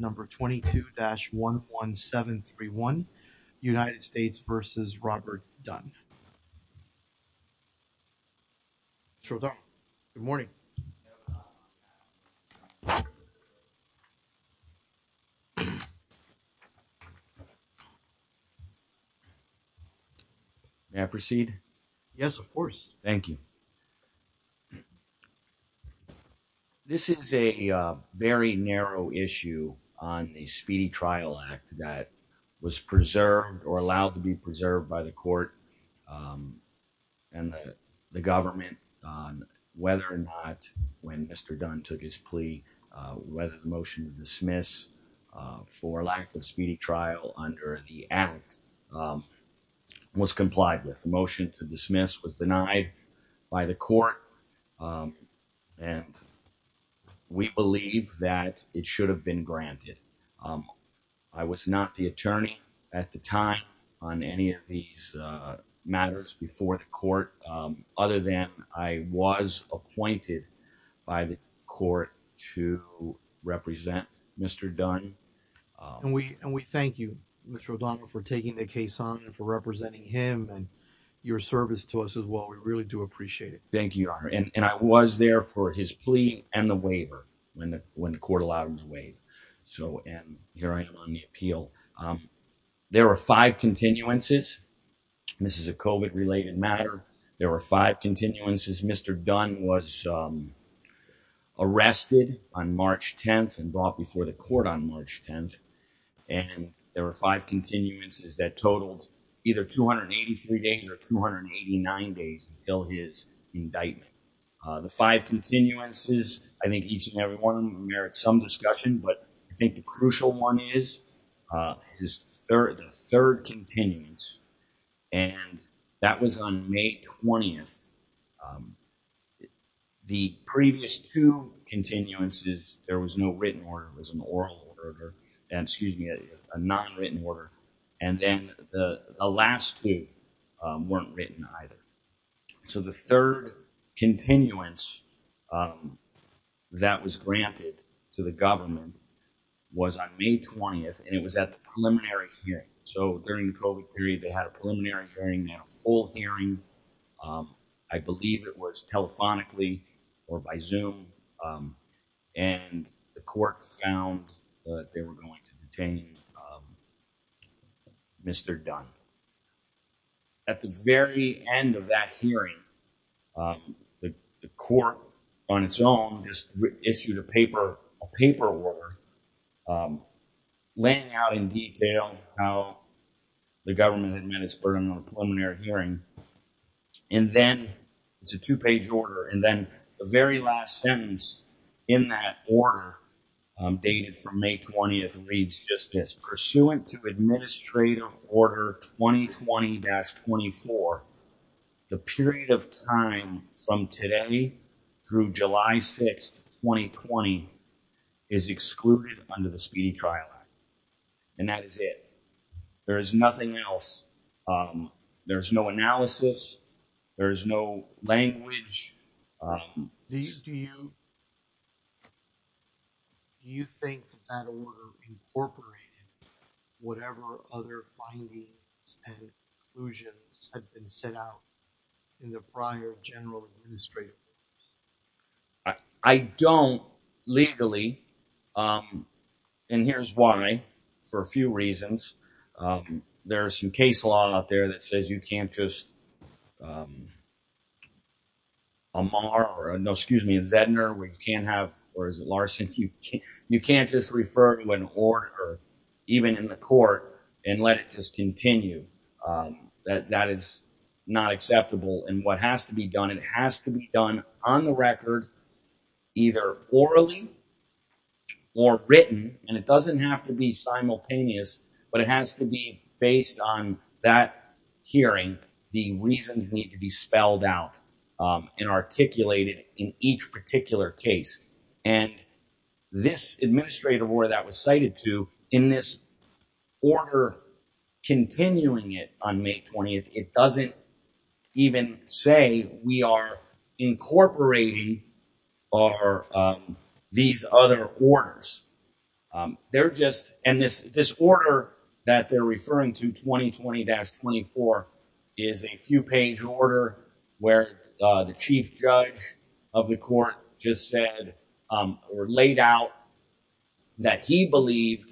Number 22-11731, United States v. Robert Dunn. Sir, good morning. May I proceed? Yes, of course. Thank you. This is a very narrow issue on a speedy trial act that was preserved or allowed to be preserved by the court and the government on whether or not when Mr. Dunn took his plea, whether the motion to dismiss for lack of speedy trial under the act was complied with. The motion to dismiss was denied by the court, and we believe that it should have been granted. I was not the attorney at the time on any of these matters before the court, other than I was appointed by the court to represent Mr. Dunn. And we thank you, Mr. O'Donnell, for taking the case on and for representing him and your service to us as well. We really do appreciate it. Thank you, Your Honor. And I was there for his plea and the waiver when the court allowed him to waive. So, and here I am on the appeal. There were five continuances. This is a COVID-related matter. There were five continuances. Mr. Dunn was arrested on March 10th and brought before the court on March 10th, and there were five continuances that totaled either 283 days or 289 days until his indictment. The five continuances, I think each and every one of them merits some discussion, but I think the crucial one is the third continuance. And that was on May 20th. The previous two continuances, there was no written order, it was an oral order, excuse me, a non-written order. And then the last two weren't written either. So the third continuance that was granted to the government was on May 20th, and it was at the preliminary hearing. So during the COVID period, they had a preliminary hearing, they had a full hearing. I believe it was telephonically or by Zoom, and the court found that they were going to detain Mr. Dunn. At the very end of that hearing, the court on its own just issued a paper, a paperwork, laying out in detail how the government had met its burden on the preliminary hearing. And then it's a two page order. And then the very last sentence in that order dated from May 20th reads just this. Pursuant to administrative order 2020-24, the period of time from today through July 6th, 2020 is excluded under the Speedy Trial Act, and that is it. There is nothing else. There's no analysis. There is no language. Do you think that that order incorporated whatever other findings and conclusions had been set out in the prior general administrative orders? I don't, legally. And here's why, for a few reasons. There's some case law out there that says you can't just, Amar, no, excuse me, Zedner, where you can't have, or is it Larson, you can't just refer to an order, even in the court, and let it just continue. That is not acceptable. And what has to be done, it has to be done on the record, either orally or written. And it doesn't have to be simultaneous, but it has to be based on that hearing. The reasons need to be spelled out and articulated in each particular case. And this administrative order that was cited to, in this order continuing it on May 20th, it doesn't even say we are incorporating these other orders. They're just, and this order that they're referring to, 2020-24, is a few page order where the chief judge of the court just said, or laid out that he believed,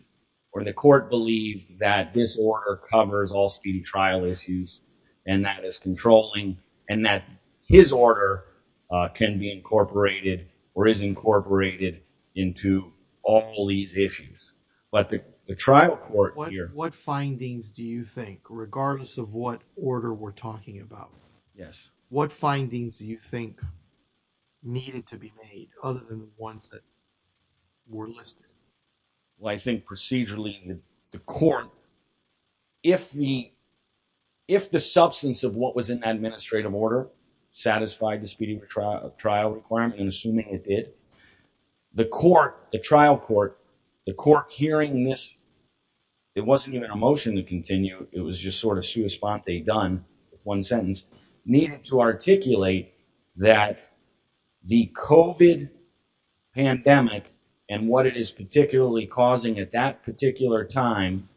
or the court believed that this order covers all speedy trial issues, and that is controlling, and that his order can be incorporated, or is incorporated into all these issues. But the trial court here. What findings do you think, regardless of what order we're talking about? Yes. What findings do you think needed to be made, other than the ones that were listed? Well, I think procedurally, the court, if the substance of what was in that administrative order satisfied the speedy trial requirement, and assuming it did, the court, the trial court, the court hearing this, it wasn't even a motion to continue, it was just sort of sua sponte, done with one sentence, needed to articulate that the COVID pandemic, and what it is particularly causing at that particular time,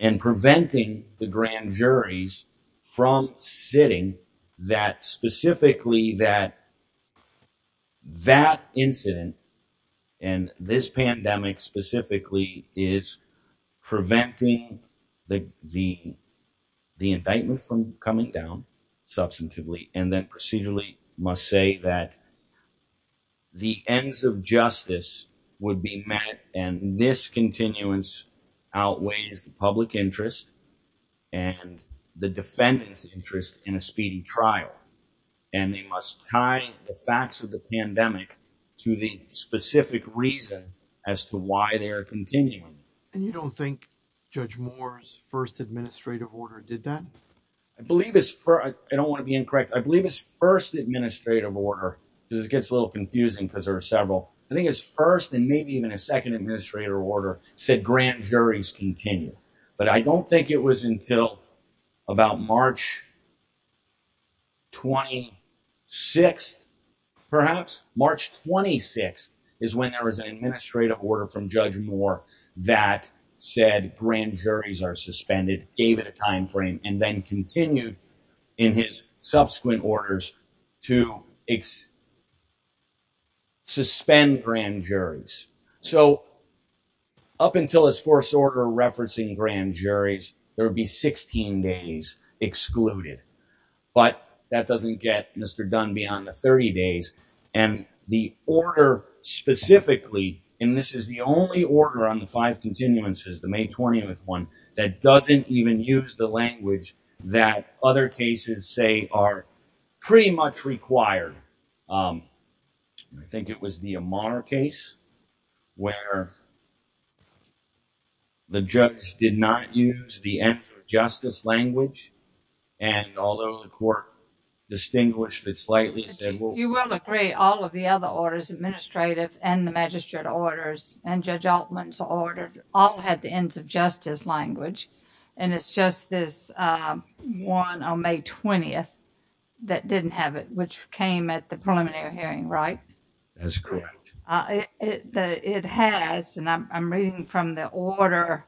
and preventing the grand juries from sitting, that specifically, that that incident, and this pandemic specifically, is preventing the indictment from coming down, substantively, and then procedurally must say that the ends of justice would be met, and this continuance outweighs the public interest, and the defendant's interest in a speedy trial, and they must tie the facts of the pandemic to the specific reason as to why they are continuing. And you don't think Judge Moore's first administrative order did that? I believe his first, I don't want to be incorrect, I believe his first administrative order, because it gets a little confusing, because there are several, I think his first, and maybe even a second administrative order, said grand juries continue, but I don't think it was until about March 26th, perhaps, March 26th, is when there was an administrative order from Judge Moore that said grand juries are suspended, gave it a time frame, and then continued in his subsequent orders to suspend grand juries. So up until his first order referencing grand juries, there would be 16 days excluded, but that doesn't get Mr. Dunn beyond the 30 days, and the order specifically, and this is the only order on the five continuances, the May 20th one, that doesn't even use the language that other cases say are pretty much required. Um, I think it was the Amar case, where the judge did not use the ends of justice language, and although the court distinguished it slightly, you will agree all of the other orders, administrative and the magistrate orders, and Judge Altman's order, all had the ends of justice language, and it's just this one on May 20th, that didn't have it, which came at the preliminary hearing, right? That's correct. It has, and I'm reading from the order,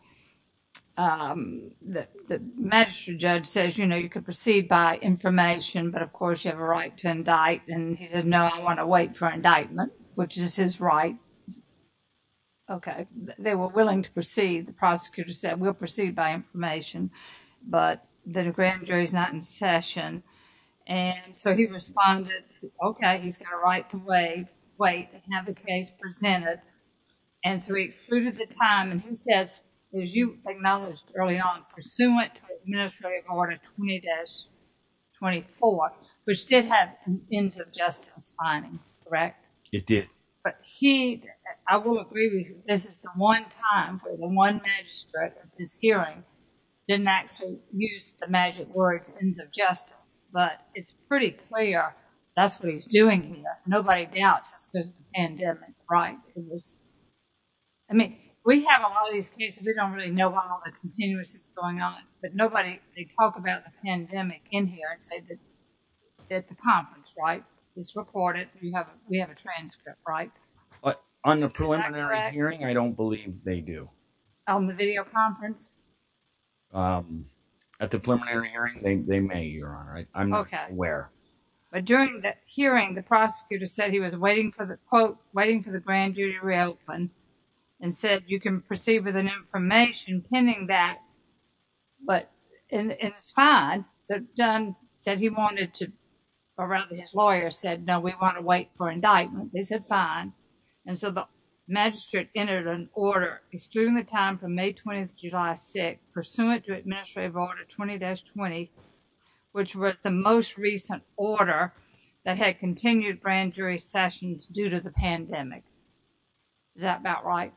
um, that the magistrate judge says, you know, you could proceed by information, but of course, you have a right to indict, and he said, no, I want to wait for indictment, which is his right. Okay, they were willing to proceed, the prosecutor said, we'll proceed by information, but the grand jury's not in session, and so he responded, okay, he's going to write the way, wait, and have the case presented, and so he excluded the time, and he says, as you acknowledged early on, pursuant to administrative order 20-24, which did have ends of justice findings, correct? It did. But he, I will agree with you, this is the one time where the one magistrate of this hearing didn't actually use the magic words, ends of justice, but it's pretty clear, that's what he's doing here. Nobody doubts it's because of the pandemic, right? I mean, we have a lot of these cases, we don't really know why all the continuous is going on, but nobody, they talk about the pandemic in here, and say that at the conference, right, it's recorded, we have a transcript, right? But on the preliminary hearing, I don't believe they do. On the video conference? At the preliminary hearing, they may, Your Honor, I'm not aware. But during the hearing, the prosecutor said he was waiting for the quote, waiting for the grand jury to reopen, and said you can proceed with an information pending that, but, and it's fine, but Dunn said he wanted to, or rather his lawyer said, no, we want to wait for indictment, they said fine, and so the magistrate entered an order, excluding the time from May 20th to July 6th, pursuant to administrative order 20-20, which was the most recent order that had continued grand jury sessions due to the pandemic. Is that about right?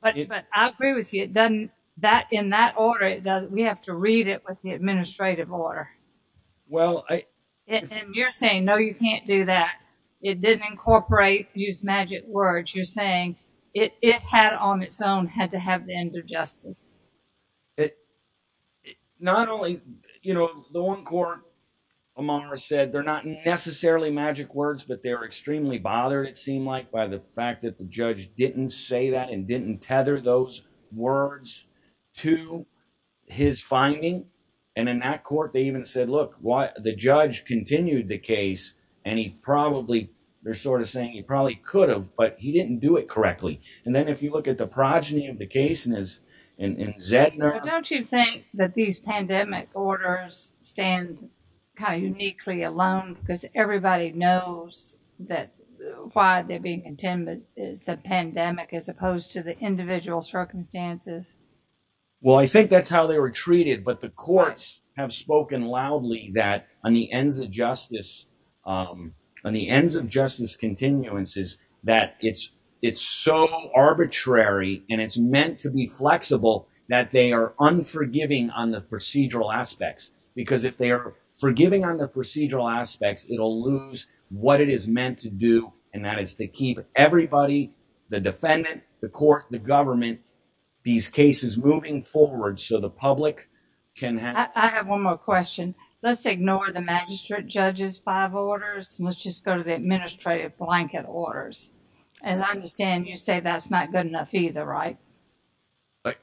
But I agree with you, it doesn't, that, in that order, it doesn't, we have to read it with the administrative order. Well, I, and you're saying, no, you can't do that. It didn't incorporate, use magic words, you're saying, it had on its own, had to have the end of justice. Not only, you know, the one court, Amara said, they're not necessarily magic words, but they're extremely bothered, it seemed like, by the fact that the judge didn't say that, and didn't tether those words to his finding, and in that court, they even said, look, why, the judge continued the case, and he probably, they're sort of saying he probably could but he didn't do it correctly. And then if you look at the progeny of the case in Zedner. Don't you think that these pandemic orders stand kind of uniquely alone, because everybody knows that why they're being intended is the pandemic, as opposed to the individual circumstances? Well, I think that's how they were treated, but the courts have spoken loudly that on the ends of justice, on the ends of justice continuances, that it's, it's so arbitrary, and it's meant to be flexible, that they are unforgiving on the procedural aspects, because if they are forgiving on the procedural aspects, it'll lose what it is meant to do. And that is to keep everybody, the defendant, the court, the government, these cases moving forward, so the public can have one more question. Let's ignore the magistrate judge's five orders, let's just go to the administrative blanket orders. As I understand, you say that's not good enough either, right?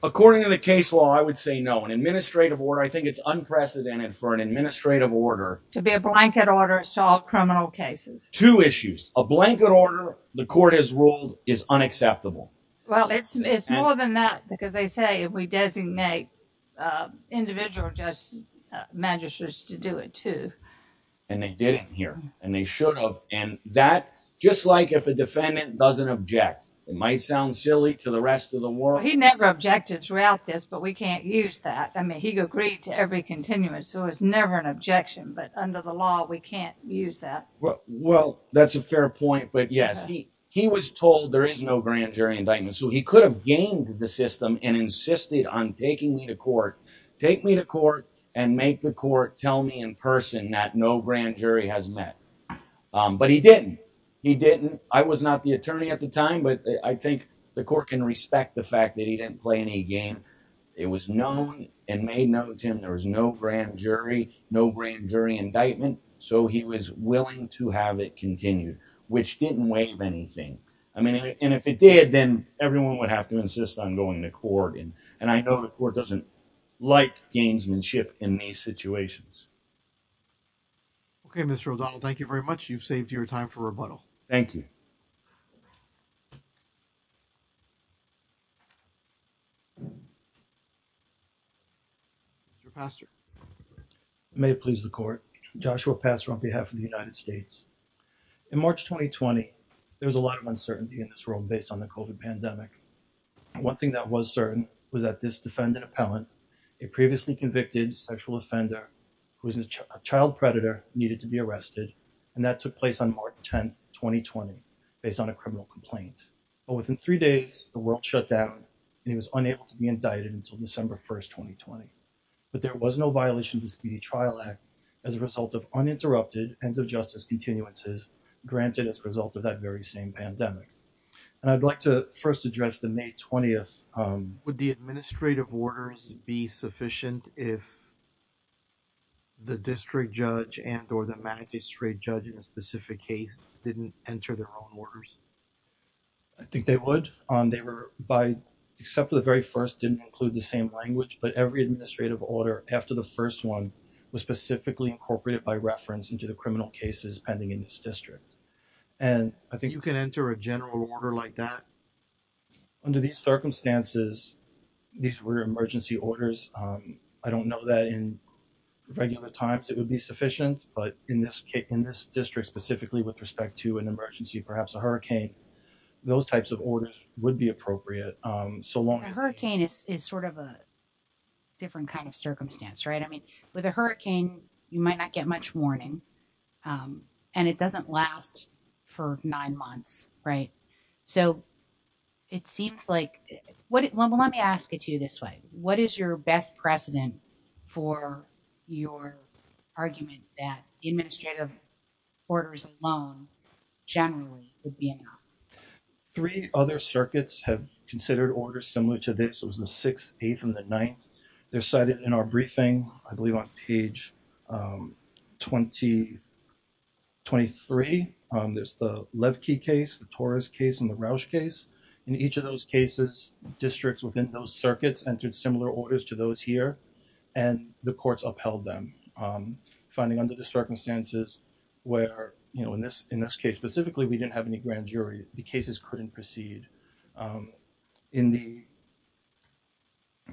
According to the case law, I would say no. An administrative order, I think it's unprecedented for an administrative order. To be a blanket order, solve criminal cases. Two issues, a blanket order, the court has ruled is unacceptable. Well, it's more than that, because they say if we designate individual magistrates to do it too. And they didn't here, and they should have, and that, just like if a defendant doesn't object, it might sound silly to the rest of the world. He never objected throughout this, but we can't use that. I mean, he agreed to every continuum, so it's never an objection, but under the law, we can't use that. Well, that's a fair point, but yes, he was told there is no grand jury indictment, so he could have gamed the system and insisted on taking me to court, take me to court, and make the court tell me in person that no grand jury has met. But he didn't. He didn't. I was not the attorney at the time, but I think the court can respect the fact that he didn't play any game. It was known and made known to him there was no grand jury, no grand jury indictment, so he was willing to have it continued, which didn't waive anything. I mean, and if it did, then everyone would have to insist on going to court, and I know the court doesn't like gamesmanship in these situations. Okay, Mr. O'Donnell, thank you very much. You've saved your time for rebuttal. Thank you. Mr. Pastor. May it please the court. Joshua Pastor on behalf of the United States. In March 2020, there was a lot of uncertainty in this world based on the COVID pandemic. One thing that was certain was that this defendant appellant, a previously convicted sexual offender who was a child predator, needed to be arrested, and that took place on March 10, 2020, based on a criminal complaint. But within three days, the world shut down, and he was unable to be indicted until December 1, 2020. But there was no violation of the Speedy Trial Act as a result of uninterrupted ends of justice continuances granted as a result of that very same pandemic. And I'd like to first address the May 20th... Would the administrative orders be sufficient if the district judge and or the magistrate judge in a specific case didn't enter their own orders? I think they would. They were, except for the very first, didn't include the same language, but every administrative order after the first one was specifically incorporated by reference into the criminal cases pending in this district. And I think... You can enter a general order like that? Under these circumstances, these were emergency orders. I don't know that in regular times it would be sufficient, but in this case, in this district specifically, with respect to an emergency, perhaps a hurricane, those types of orders would be appropriate. Hurricane is sort of a different kind of circumstance, right? I mean, with a hurricane, you might not get much warning and it doesn't last for nine months, right? So it seems like... Let me ask it to you this way. What is your best precedent for your argument that administrative orders alone generally would be enough? Three other circuits have considered orders similar to this. It was the 6th, 8th, and the 9th. They're cited in our briefing, I believe on page 23. There's the Levkey case, the Torres case, and the Roush case. In each of those cases, districts within those circuits entered similar orders to those here and the courts upheld them. Finding under the circumstances where, in this case specifically, we didn't have any grand jury, the cases couldn't proceed. In the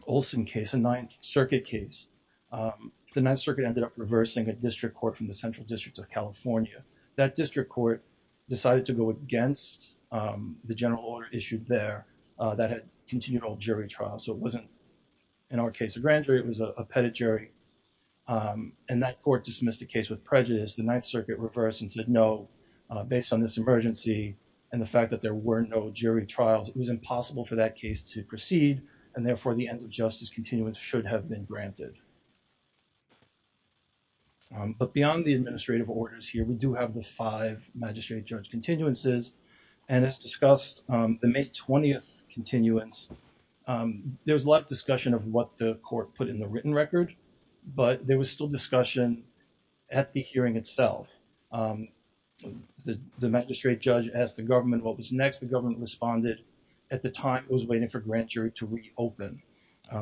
Olson case, a 9th Circuit case, the 9th Circuit ended up reversing a district court from the Central District of California. That district court decided to go against the general order issued there that had continued all jury trials. So it wasn't, in our case, a grand jury. It was a pettit jury. And that court dismissed the case with prejudice. The 9th Circuit reversed and said, based on this emergency and the fact that there were no jury trials, it was impossible for that case to proceed. And therefore, the ends of justice continuance should have been granted. But beyond the administrative orders here, we do have the five magistrate-judge continuances. And as discussed, the May 20th continuance, there was a lot of discussion of what the court put in the written record, but there was still discussion at the hearing itself. The magistrate-judge asked the government what was next. The government responded, at the time, it was waiting for grand jury to reopen.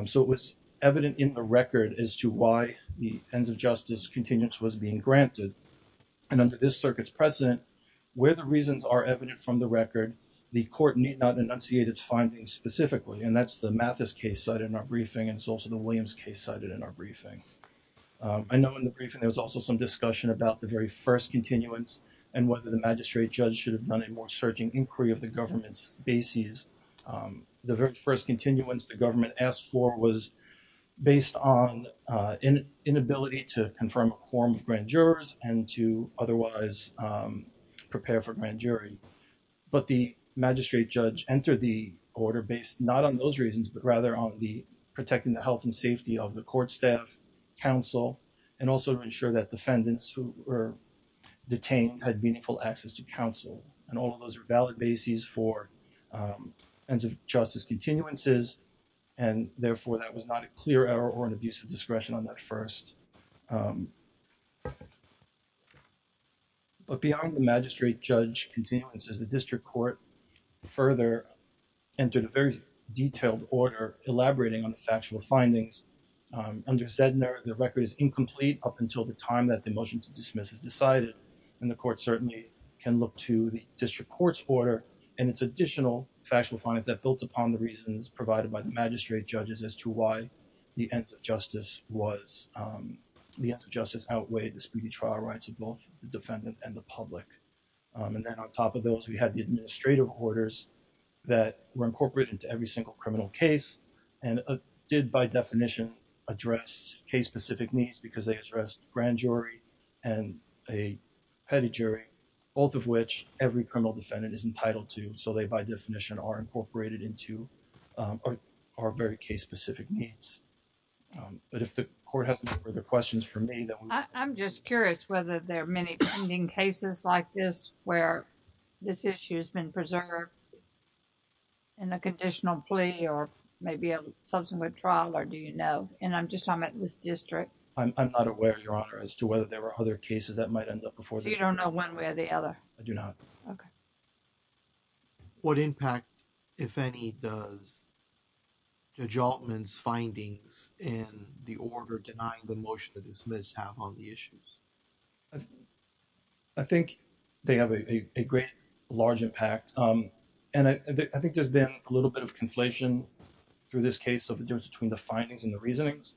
So it was evident in the record as to why the ends of justice continuance was being granted. And under this circuit's precedent, where the reasons are evident from the record, the court need not enunciate its findings specifically. And that's the Mathis case cited in our briefing, and it's also the Williams case cited in our briefing. I know in the briefing, there was also some discussion about the very first continuance and whether the magistrate-judge should have done a more searching inquiry of the government's bases. The very first continuance the government asked for was based on inability to confirm a quorum of grand jurors and to otherwise prepare for grand jury. But the magistrate-judge entered the order based not on those reasons, but rather on the protecting the health and safety of the court staff, counsel, and also to ensure that defendants who were detained had meaningful access to counsel. And all of those are valid bases for ends of justice continuances. And therefore that was not a clear error or an abuse of discretion on that first. But beyond the magistrate-judge continuances, the district court further entered a very detailed order elaborating on the factual findings. Under Zedner, the record is incomplete up until the time that the motion to dismiss is decided. And the court certainly can look to the district court's order and its additional factual findings that built upon the reasons provided by the magistrate-judges as to why the ends of justice was, the ends of justice outweighed the speedy trial rights of both the defendant and the public. And then on top of those, we had the administrative orders that were incorporated into every single criminal case and did by definition address case-specific needs because they addressed grand jury and a petty jury, both of which every criminal defendant is entitled to. So they, by definition, are incorporated into our very case-specific needs. But if the court has any further questions for me. I'm just curious whether there are many pending cases like this where this issue has been preserved in a conditional plea or maybe a subsequent trial or do you know? And I'm just talking about this district. I'm not aware, Your Honor, as to whether there were other cases that might end up before the jury. So you don't know one way or the other? I do not. Okay. What impact, if any, does the adjuntment's findings in the order denying the motion to dismiss have on the issues? I think they have a great, large impact. And I think there's been a little bit of conflation through this case of the difference between the findings and the reasonings.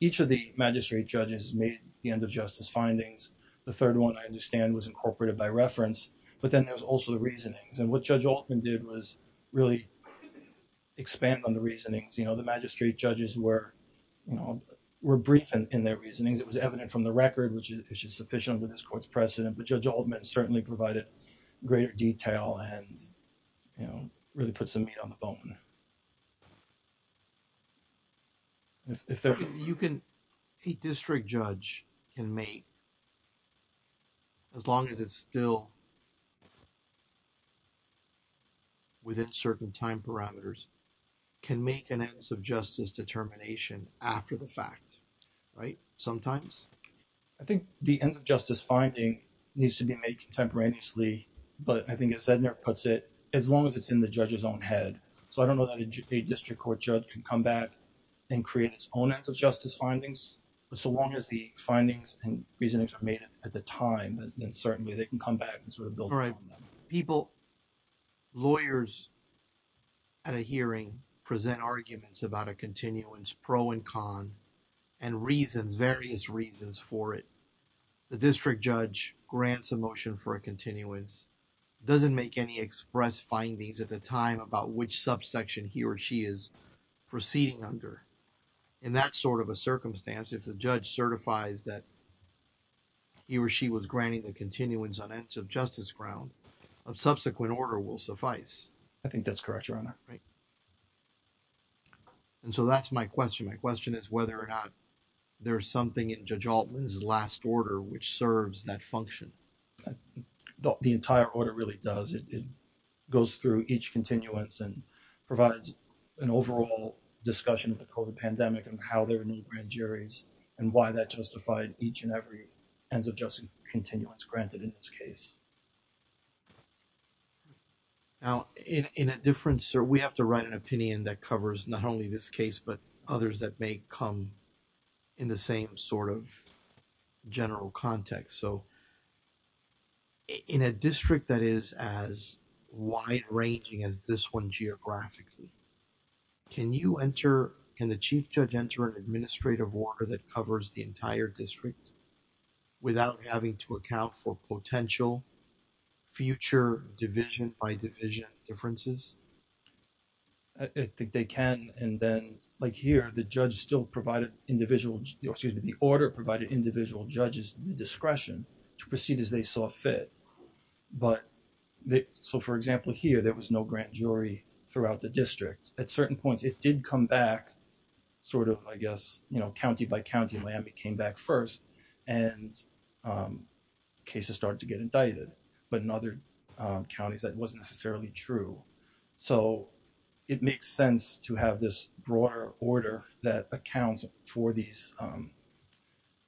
Each of the magistrate judges made the end of justice findings. The third one, I understand, was incorporated by reference. But then there's also the reasonings. And what Judge Altman did was really expand on the reasonings. The magistrate judges were brief in their reasonings. It was evident from the record, which is sufficient under this court's precedent. But Judge Altman certainly provided greater detail and really put some meat on the bone. You can, a district judge can make, as long as it's still within certain time parameters, can make an ends of justice determination after the fact, right? Sometimes. I think the ends of justice finding needs to be made contemporaneously. But I think as Sednar puts it, as long as it's in the judge's own head. So I don't know that a district court judge can come back and create its own ends of justice findings. But so long as the findings and reasonings are made at the time, then certainly they can come back and sort of build on them. All right. Lawyers at a hearing present arguments about a continuance, pro and con, and reasons, various reasons for it. The district judge grants a motion for a continuance, doesn't make any express findings at the time about which subsection he or she is proceeding under. In that sort of a circumstance, if the judge certifies that he or she was granting the continuance on ends of justice ground, a subsequent order will suffice. I think that's correct, Your Honor. Right. And so that's my question. My question is whether or not there's something in Judge Altman's last order which serves that function. The entire order really does. It goes through each continuance and provides an overall discussion of the COVID pandemic and how there are new grand juries and why that justified each and every ends of justice continuance granted in this case. Now, in a different sort, we have to write an opinion that covers not only this case, but others that may come in the same sort of general context. So in a district that is as wide ranging as this one geographically, can you enter, can the chief judge enter an administrative order that covers the entire district without having to account for potential future division by division differences? I think they can. And then like here, the judge still provided individual, excuse me, the order provided individual judges the discretion to proceed as they saw fit. But so for example, here, there was no grand jury throughout the district. At certain points, it did come back sort of, I guess, you know, county by county, Miami came back first and cases started to get indicted. But in other counties, that wasn't necessarily true. So it makes sense to have this broader order that accounts for these,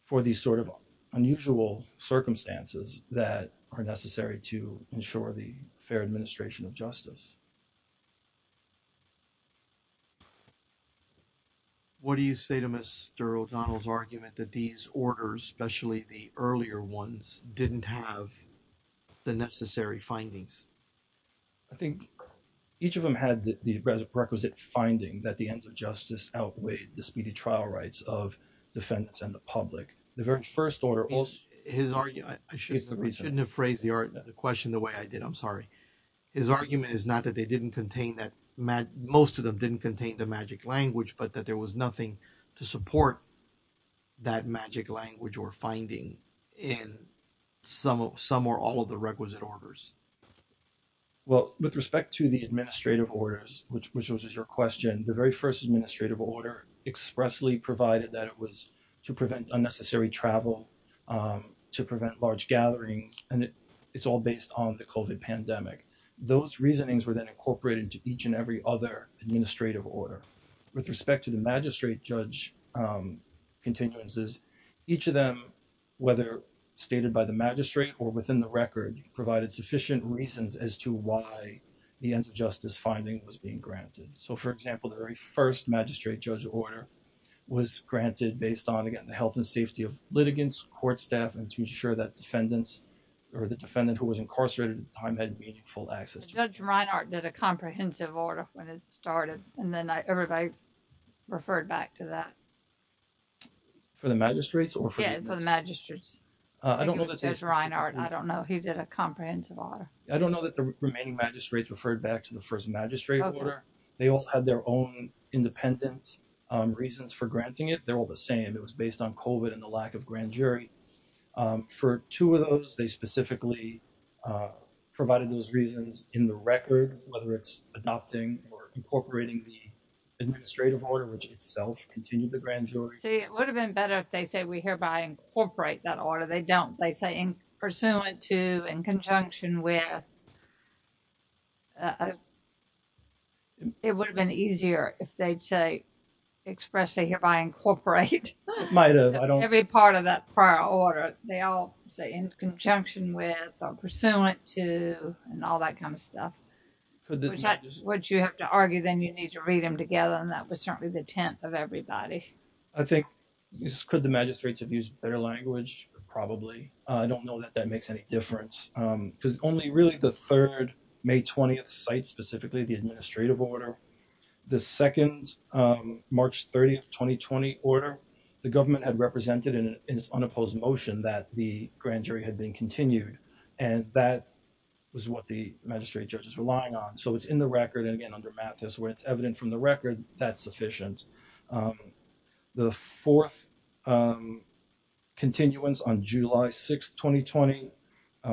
for these sort of unusual circumstances that are necessary to ensure the fair administration of justice. What do you say to Mr. O'Donnell's argument that these orders, especially the earlier ones, didn't have the necessary findings? I think each of them had the requisite finding that the ends of justice outweigh the speedy trial rights of defendants and the public. The very first order also... I shouldn't have phrased the question the way I did. I'm sorry. His argument is not that they didn't contain that, most of them didn't contain the magic language, but that there was nothing to support that magic language or finding in some or all of the requisite orders. Well, with respect to the administrative orders, which was your question, the very first administrative order expressly provided that it was to prevent unnecessary travel, to prevent large gatherings, and it's all based on the COVID pandemic. Those reasonings were then incorporated into each and every other administrative order. With respect to the magistrate judge continuances, each of them, whether stated by the magistrate or within the record, provided sufficient reasons as to why the ends of justice finding was being granted. So, for example, the very first magistrate judge order was granted based on, again, the health and safety of litigants, court staff, and to ensure that defendants or the defendant who was incarcerated at the time had meaningful access. Judge Reinhardt did a comprehensive order when it started, and then everybody referred back to that. For the magistrates? Yeah, for the magistrates. I don't know that there's Reinhardt. I don't know. He did a comprehensive order. I don't know that the remaining magistrates referred back to the first magistrate order. They all had their own independent reasons for granting it. They're all the same. It was based on COVID and the lack of grand jury. For two of those, they specifically provided those reasons in the record, whether it's adopting or incorporating the administrative order, which itself continued the grand jury. See, it would have been better if they say we hereby incorporate that order. They don't. They say in pursuant to, in conjunction with. It would have been easier if they'd say expressly hereby incorporate every part of that prior order. They all say in conjunction with or pursuant to and all that kind of stuff, which you have to argue then you need to read them together. And that was certainly the intent of everybody. I think could the magistrates have used better language? Probably. I don't know that that makes any difference because only really the third May 20th site, specifically the administrative order, the second March 30th, 2020 order, the government had represented in its unopposed motion that the grand jury had been continued. And that was what the magistrate judge is relying on. So it's in the record. And again, under Mathis, where it's evident from the record, that's sufficient. The fourth continuance on July 6th, 2020,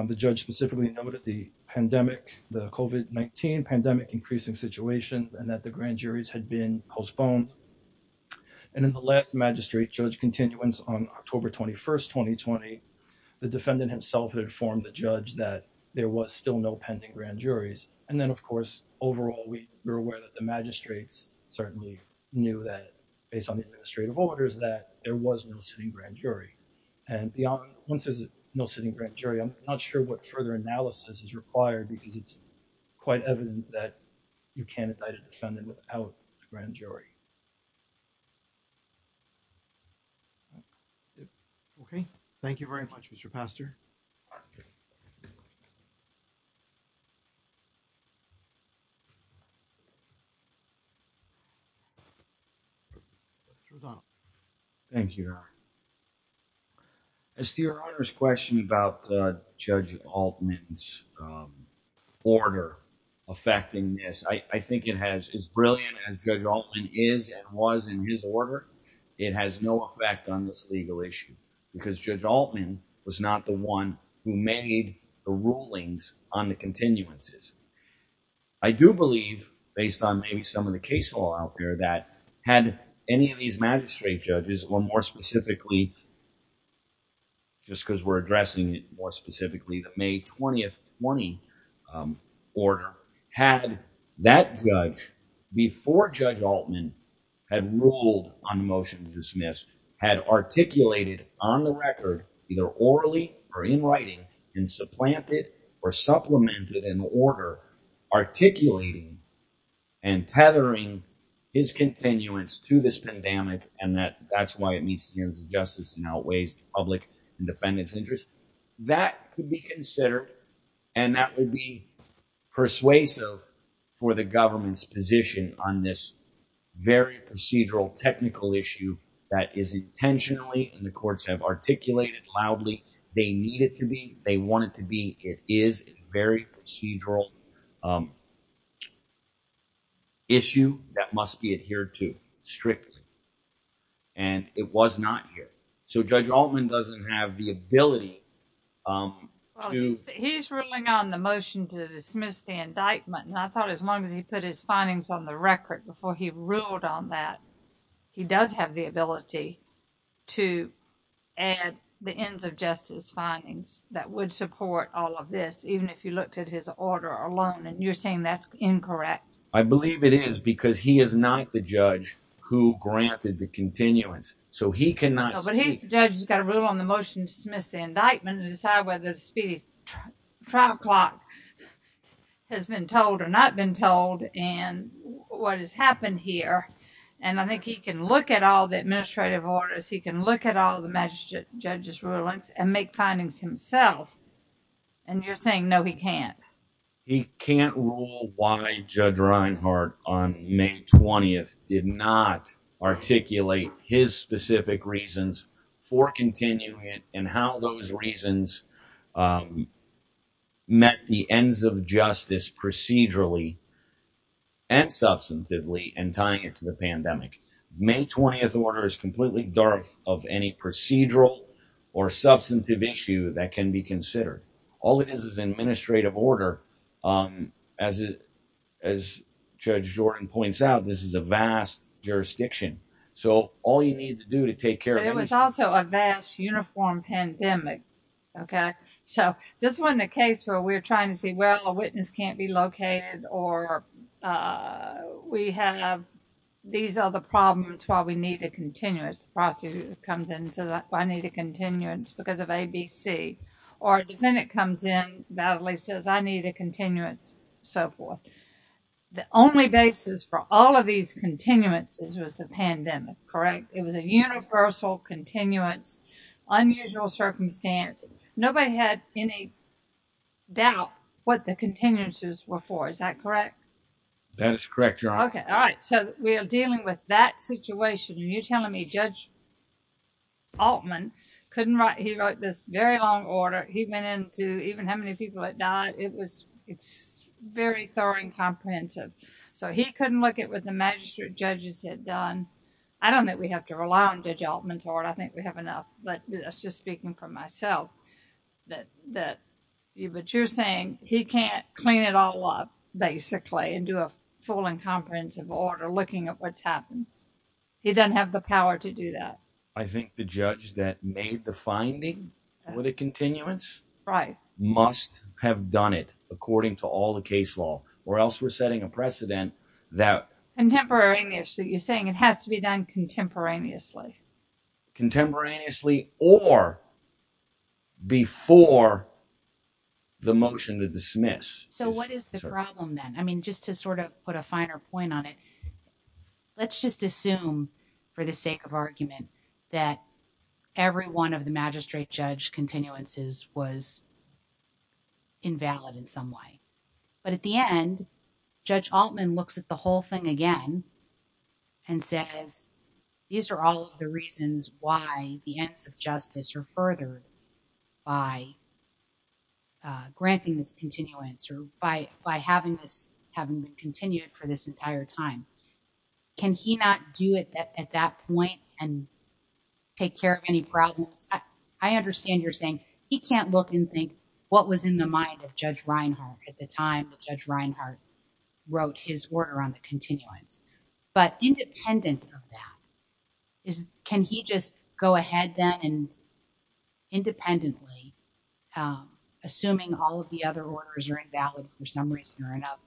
the judge specifically noted the pandemic, the COVID-19 pandemic increasing situations and that the grand juries had been postponed. And in the last magistrate judge continuance on October 21st, 2020, the defendant himself had informed the judge that there was still no pending grand juries. And then of course, overall, we were aware that the magistrates certainly knew that based on the administrative orders, that there was no sitting grand jury. And once there's no sitting grand jury, I'm not sure what further analysis is required because it's quite evident that you can't indict a defendant without a grand jury. Okay. Thank you very much, Mr. Pastor. Mr. O'Donnell. Thank you, Your Honor. As to Your Honor's question about Judge Altman's order affecting this, I think it has, as brilliant as Judge Altman is and was in his order, it has no effect on this legal issue because Judge Altman was not the one who made the rulings on the continuances. I do believe based on maybe some of the case law out there that had any of these magistrate judges or more specifically, just because we're addressing it more specifically, the May 20th, 2020 order, had that judge before Judge Altman had ruled on the motion to dismiss, had articulated on the record, either orally or in writing and supplanted or supplemented an order articulating and tethering his continuance to this pandemic and that that's why it meets the interests of justice and outweighs the public and defendant's interest. That could be considered and that would be persuasive for the government's position on this very procedural, technical issue that is intentionally, and the courts have articulated loudly, they need it to be, they want it to be. It is a very procedural issue that must be adhered to strictly and it was not here. So Judge Altman doesn't have the ability. He's ruling on the motion to dismiss the indictment and I thought as long as he put his findings on the record before he ruled on that, he does have the ability to add the ends of justice findings that would support all of this, even if you looked at his order alone and you're saying that's incorrect. I believe it is because he is not the judge who granted the continuance so he cannot speak. But he's the judge who's got to rule on the motion to dismiss the indictment and decide whether the trial clock has been told or not been told and what has happened here and I think he can look at all the administrative orders, he can look at all the magistrate judge's rulings and make findings himself and you're saying no he can't. He can't rule why Judge Reinhart on May 20th did not articulate his specific reasons for continuing it and how those reasons met the ends of justice procedurally and substantively and tying it to the pandemic. May 20th order is completely of any procedural or substantive issue that can be considered. All it is is administrative order as Judge Jordan points out, this is a vast jurisdiction so all you need to do to take care of it. It was also a vast uniform pandemic. Okay, so this wasn't a case where we're trying to see well a witness can't be located or we have these other problems while we need a continuous prosecutor comes in so that I need a continuance because of ABC or defendant comes in validly says I need a continuance so forth. The only basis for all of these continuances was the pandemic, correct? It was a universal continuance, unusual circumstance. Nobody had any doubt what the continuances were for. Is that correct? That is correct, Your Honor. Okay, all right. So we are dealing with that situation and you're telling me Judge Altman couldn't write, he wrote this very long order. He went into even how many people had died. It was, it's very thorough and comprehensive so he couldn't look at what the magistrate judges had done. I don't think we have to rely on Judge Altman's order. I think we have enough but that's just speaking for myself that you're saying he can't clean it all up basically and do a full and comprehensive order looking at what's happened. He doesn't have the power to do that. I think the judge that made the finding for the continuance must have done it according to all the case law or else we're setting a precedent that... Contemporaneously, you're saying it has to be done contemporaneously. Contemporaneously or before the motion to dismiss. So what is the problem then? I mean, just to sort of put a finer point on it, let's just assume for the sake of argument that every one of the magistrate judge continuances was invalid in some way. But at the end, Judge Altman looks at the whole thing again and says, these are all of the reasons why the ends of justice are furthered by granting this continuance or by having this, having been continued for this entire time. Can he not do it at that point and take care of any problems? I understand you're saying he can't look and think what was in the mind of Judge Reinhart at the time that Judge Reinhart wrote his order on the continuance. But independent of that, can he just go ahead then and independently, assuming all of the other orders are invalid for some reason or another,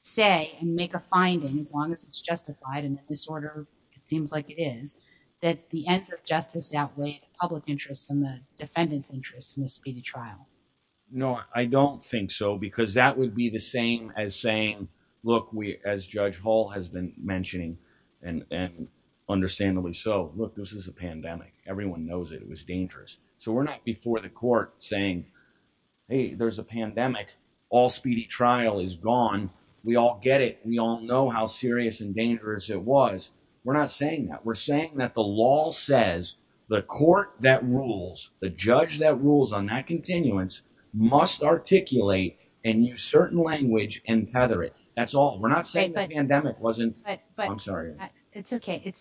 say and make a finding as long as it's justified and the disorder, it seems like it is, that the ends of justice outweigh the public interest and the defendant's interest in the speedy trial? No, I don't think so because that would be the same as saying, look, as Judge Hall has been mentioning and understandably so, look, this is a pandemic. Everyone knows it was dangerous. So we're not before the court saying, hey, there's a pandemic. All speedy trial is gone. We all get it. We all know how serious and dangerous it was. We're not saying that. We're saying that the law says the court that rules, the judge that rules on that continuance must articulate and use certain language and tether it. That's all. We're not saying the pandemic wasn't. But I'm sorry. It's OK.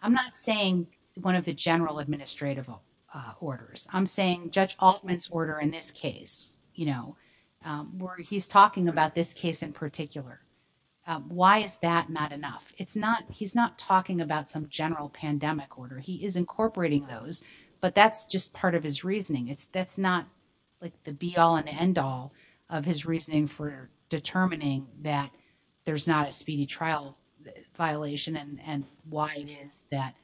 I'm not saying one of the general administrative orders. I'm saying Judge Altman's order in this case, where he's talking about this case in particular. Why is that not enough? It's not he's not talking about some general pandemic order. He is incorporating those, but that's just part of his reasoning. It's that's not like the be all and end all of his reasoning for determining that there's not a speedy trial violation and why it is that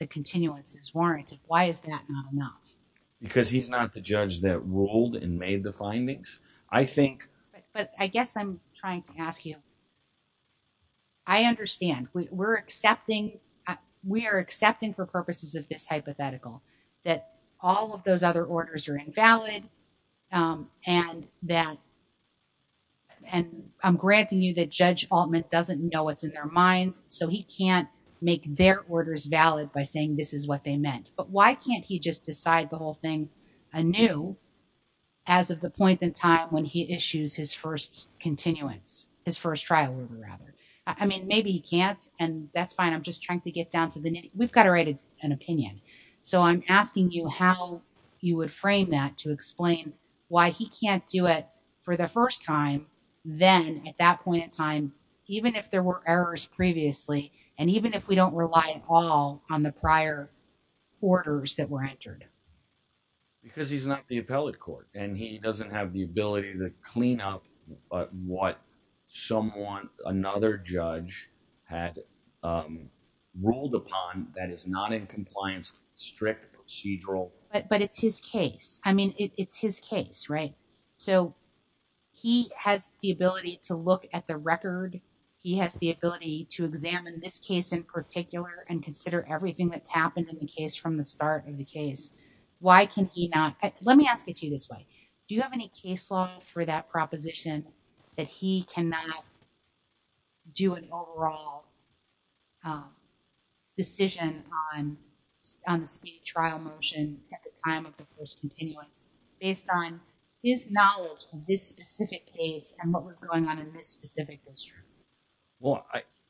the continuance is warranted. Why is that not enough? Because he's not the judge that ruled and made the findings, I think. But I guess I'm trying to ask you, I understand we're accepting. We are accepting for purposes of this hypothetical that all of those other orders are invalid and that. And I'm granting you that Judge Altman doesn't know what's in their minds, so he can't make their orders valid by saying this is what they meant. But why can't he just decide the whole thing anew as of the point in time when he issues his first continuance, his first trial order, rather? I mean, maybe he can't, and that's fine. I'm just trying to get down to the nitty. We've got to write an opinion. So I'm asking you how you would frame that to explain why he can't do it for the first time. Then at that point in time, even if there were errors previously, and even if we don't rely at all on the prior orders that were entered. Because he's not the appellate court and he doesn't have the ability to clean up what someone, another judge had ruled upon that is not in compliance with strict procedural. But it's his case. I mean, it's his case, right? So he has the ability to look at the record. He has the ability to examine this case in particular and consider everything that's happened in the case from the start of the case. Why can he not? Let me ask it to you this way. Do you have any case law for that proposition that he cannot do an overall decision on the speedy trial motion at the time of the first continuance based on his knowledge of this specific case and what was going on in this specific district? Well,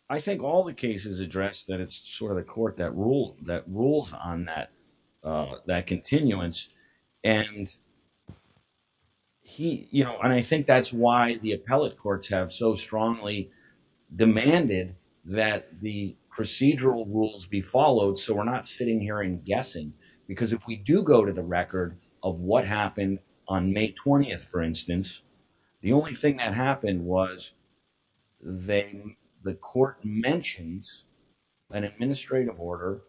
I think all the cases address that it's sort of the court that rules on that continuance. And I think that's why the appellate courts have so strongly demanded that the procedural rules be followed. So we're not sitting here and guessing because if we do go to the record of what happened on May 20th, for instance, the only thing that happened was the court mentions an administrative order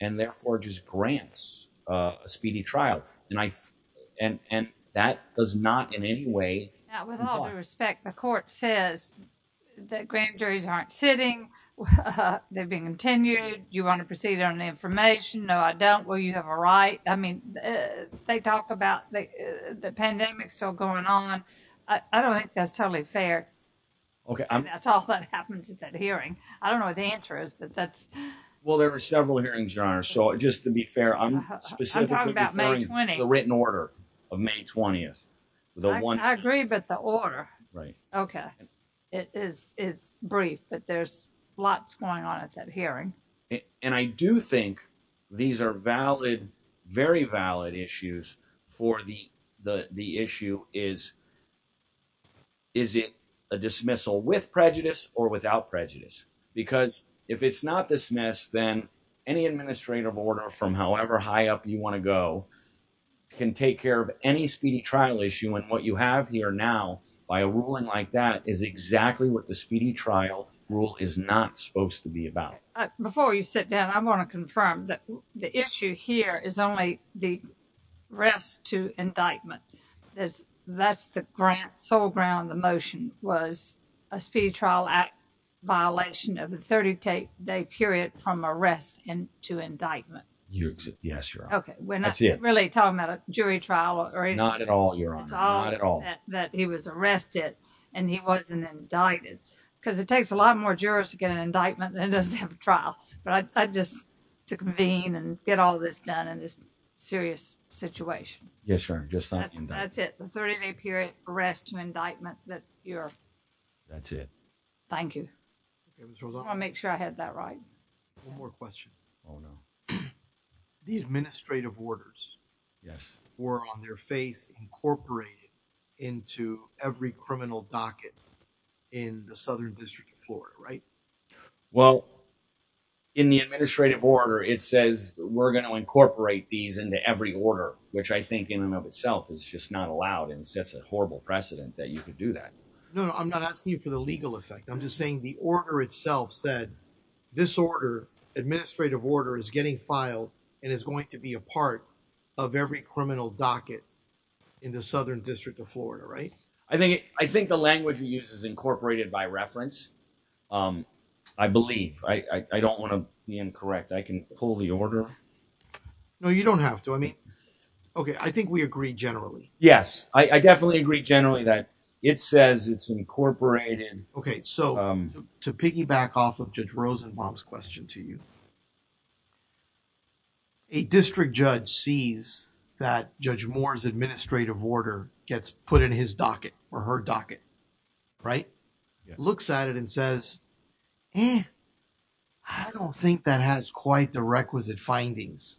and therefore just grants a speedy trial. And that does not in any way. Now, with all due respect, the court says that grand juries aren't sitting. They're being continued. Do you want to proceed on the information? No, I don't. Will you have a right? I mean, they talk about the pandemic still going on. I don't think that's totally fair. Okay. That's all that happens at that hearing. I don't know what the answer is, but that's. Well, there were several hearings, Your Honor. So just to be fair, I'm talking about the written order of May 20th. I agree, but the order. Right. Okay. It is brief, but there's lots going on at that hearing. And I do think these are valid, very valid issues for the issue is. Is it a dismissal with prejudice or without prejudice? Because if it's not dismissed, then any administrative order from however high up you want to go can take care of any speedy trial issue. And what you have here now by a ruling like that is exactly what the speedy trial rule is not supposed to be about. Before you sit down, I want to confirm that the issue here is only the rest to indictment. That's the grant sole ground. The motion was a speedy trial act violation of the 30 day period from arrest and to indictment. Yes, you're okay. We're not really talking about a jury trial. Not at all. That he was arrested and he wasn't indicted because it takes a lot more jurors to get an indictment than it does to have a trial. But I just to convene and get all this done in this serious situation. Yes, sir. Just that. That's it. The 30 day period arrest to indictment that you're. That's it. Thank you. I'll make sure I had that right. One more question. Oh, no. The administrative orders. Yes, were on their face, incorporated into every criminal docket in the Southern District of Florida, right? Well, in the administrative order, it says we're going to incorporate these into every order, which I think in and of itself is just not allowed and sets a horrible precedent that you could do that. No, I'm not asking you for the legal effect. I'm just saying the order itself said this order administrative order is getting filed and is going to be a part of every criminal docket in the Southern District of Florida, right? I think I think the language we use is incorporated by reference. I believe I don't want to be incorrect. I can pull the order. No, you don't have to. I mean, OK, I think we agree generally. Yes, I definitely agree generally that it says it's incorporated. OK, so to piggyback off of Judge Rosenbaum's question to you. A district judge sees that Judge Moore's administrative order gets put in his docket or her docket, right? Looks at it and says, I don't think that has quite the requisite findings.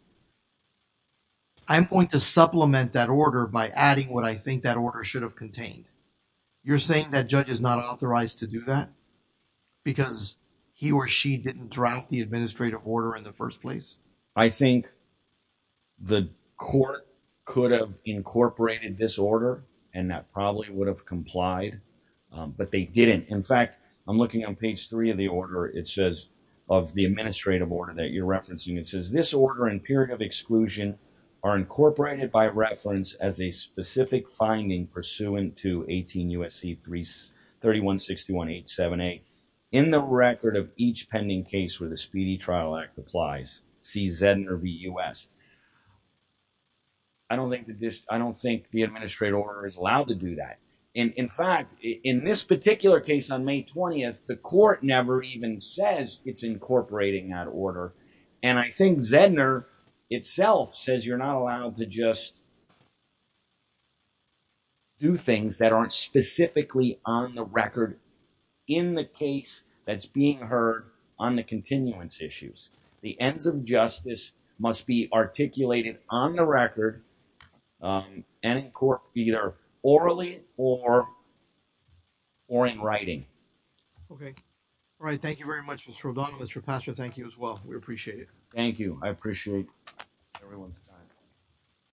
I'm going to supplement that order by adding what I think that order should have contained. You're saying that judge is not authorized to do that? Because he or she didn't draft the administrative order in the first place. I think the court could have incorporated this order and that probably would have complied, but they didn't. In fact, I'm looking on page three of the order. It says of the administrative order that you're referencing, it says this order and period of exclusion are incorporated by reference as a specific finding pursuant to 18 U.S.C. 3161878. In the record of each pending case where the Speedy Trial Act applies, see Zedner v. U.S. I don't think that this, I don't think the administrative order is allowed to do that. And in fact, in this particular case on May 20th, the court never even says it's incorporating that order. And I think Zedner itself says you're not allowed to just do things that aren't specifically on the record in the case that's being heard on the continuance issues. The ends of justice must be articulated on the record and in court, either orally or in writing. OK, all right. Thank you very much, Mr. O'Donnell. Mr. Pastor, thank you as well. We appreciate it. Thank you. I appreciate everyone's time.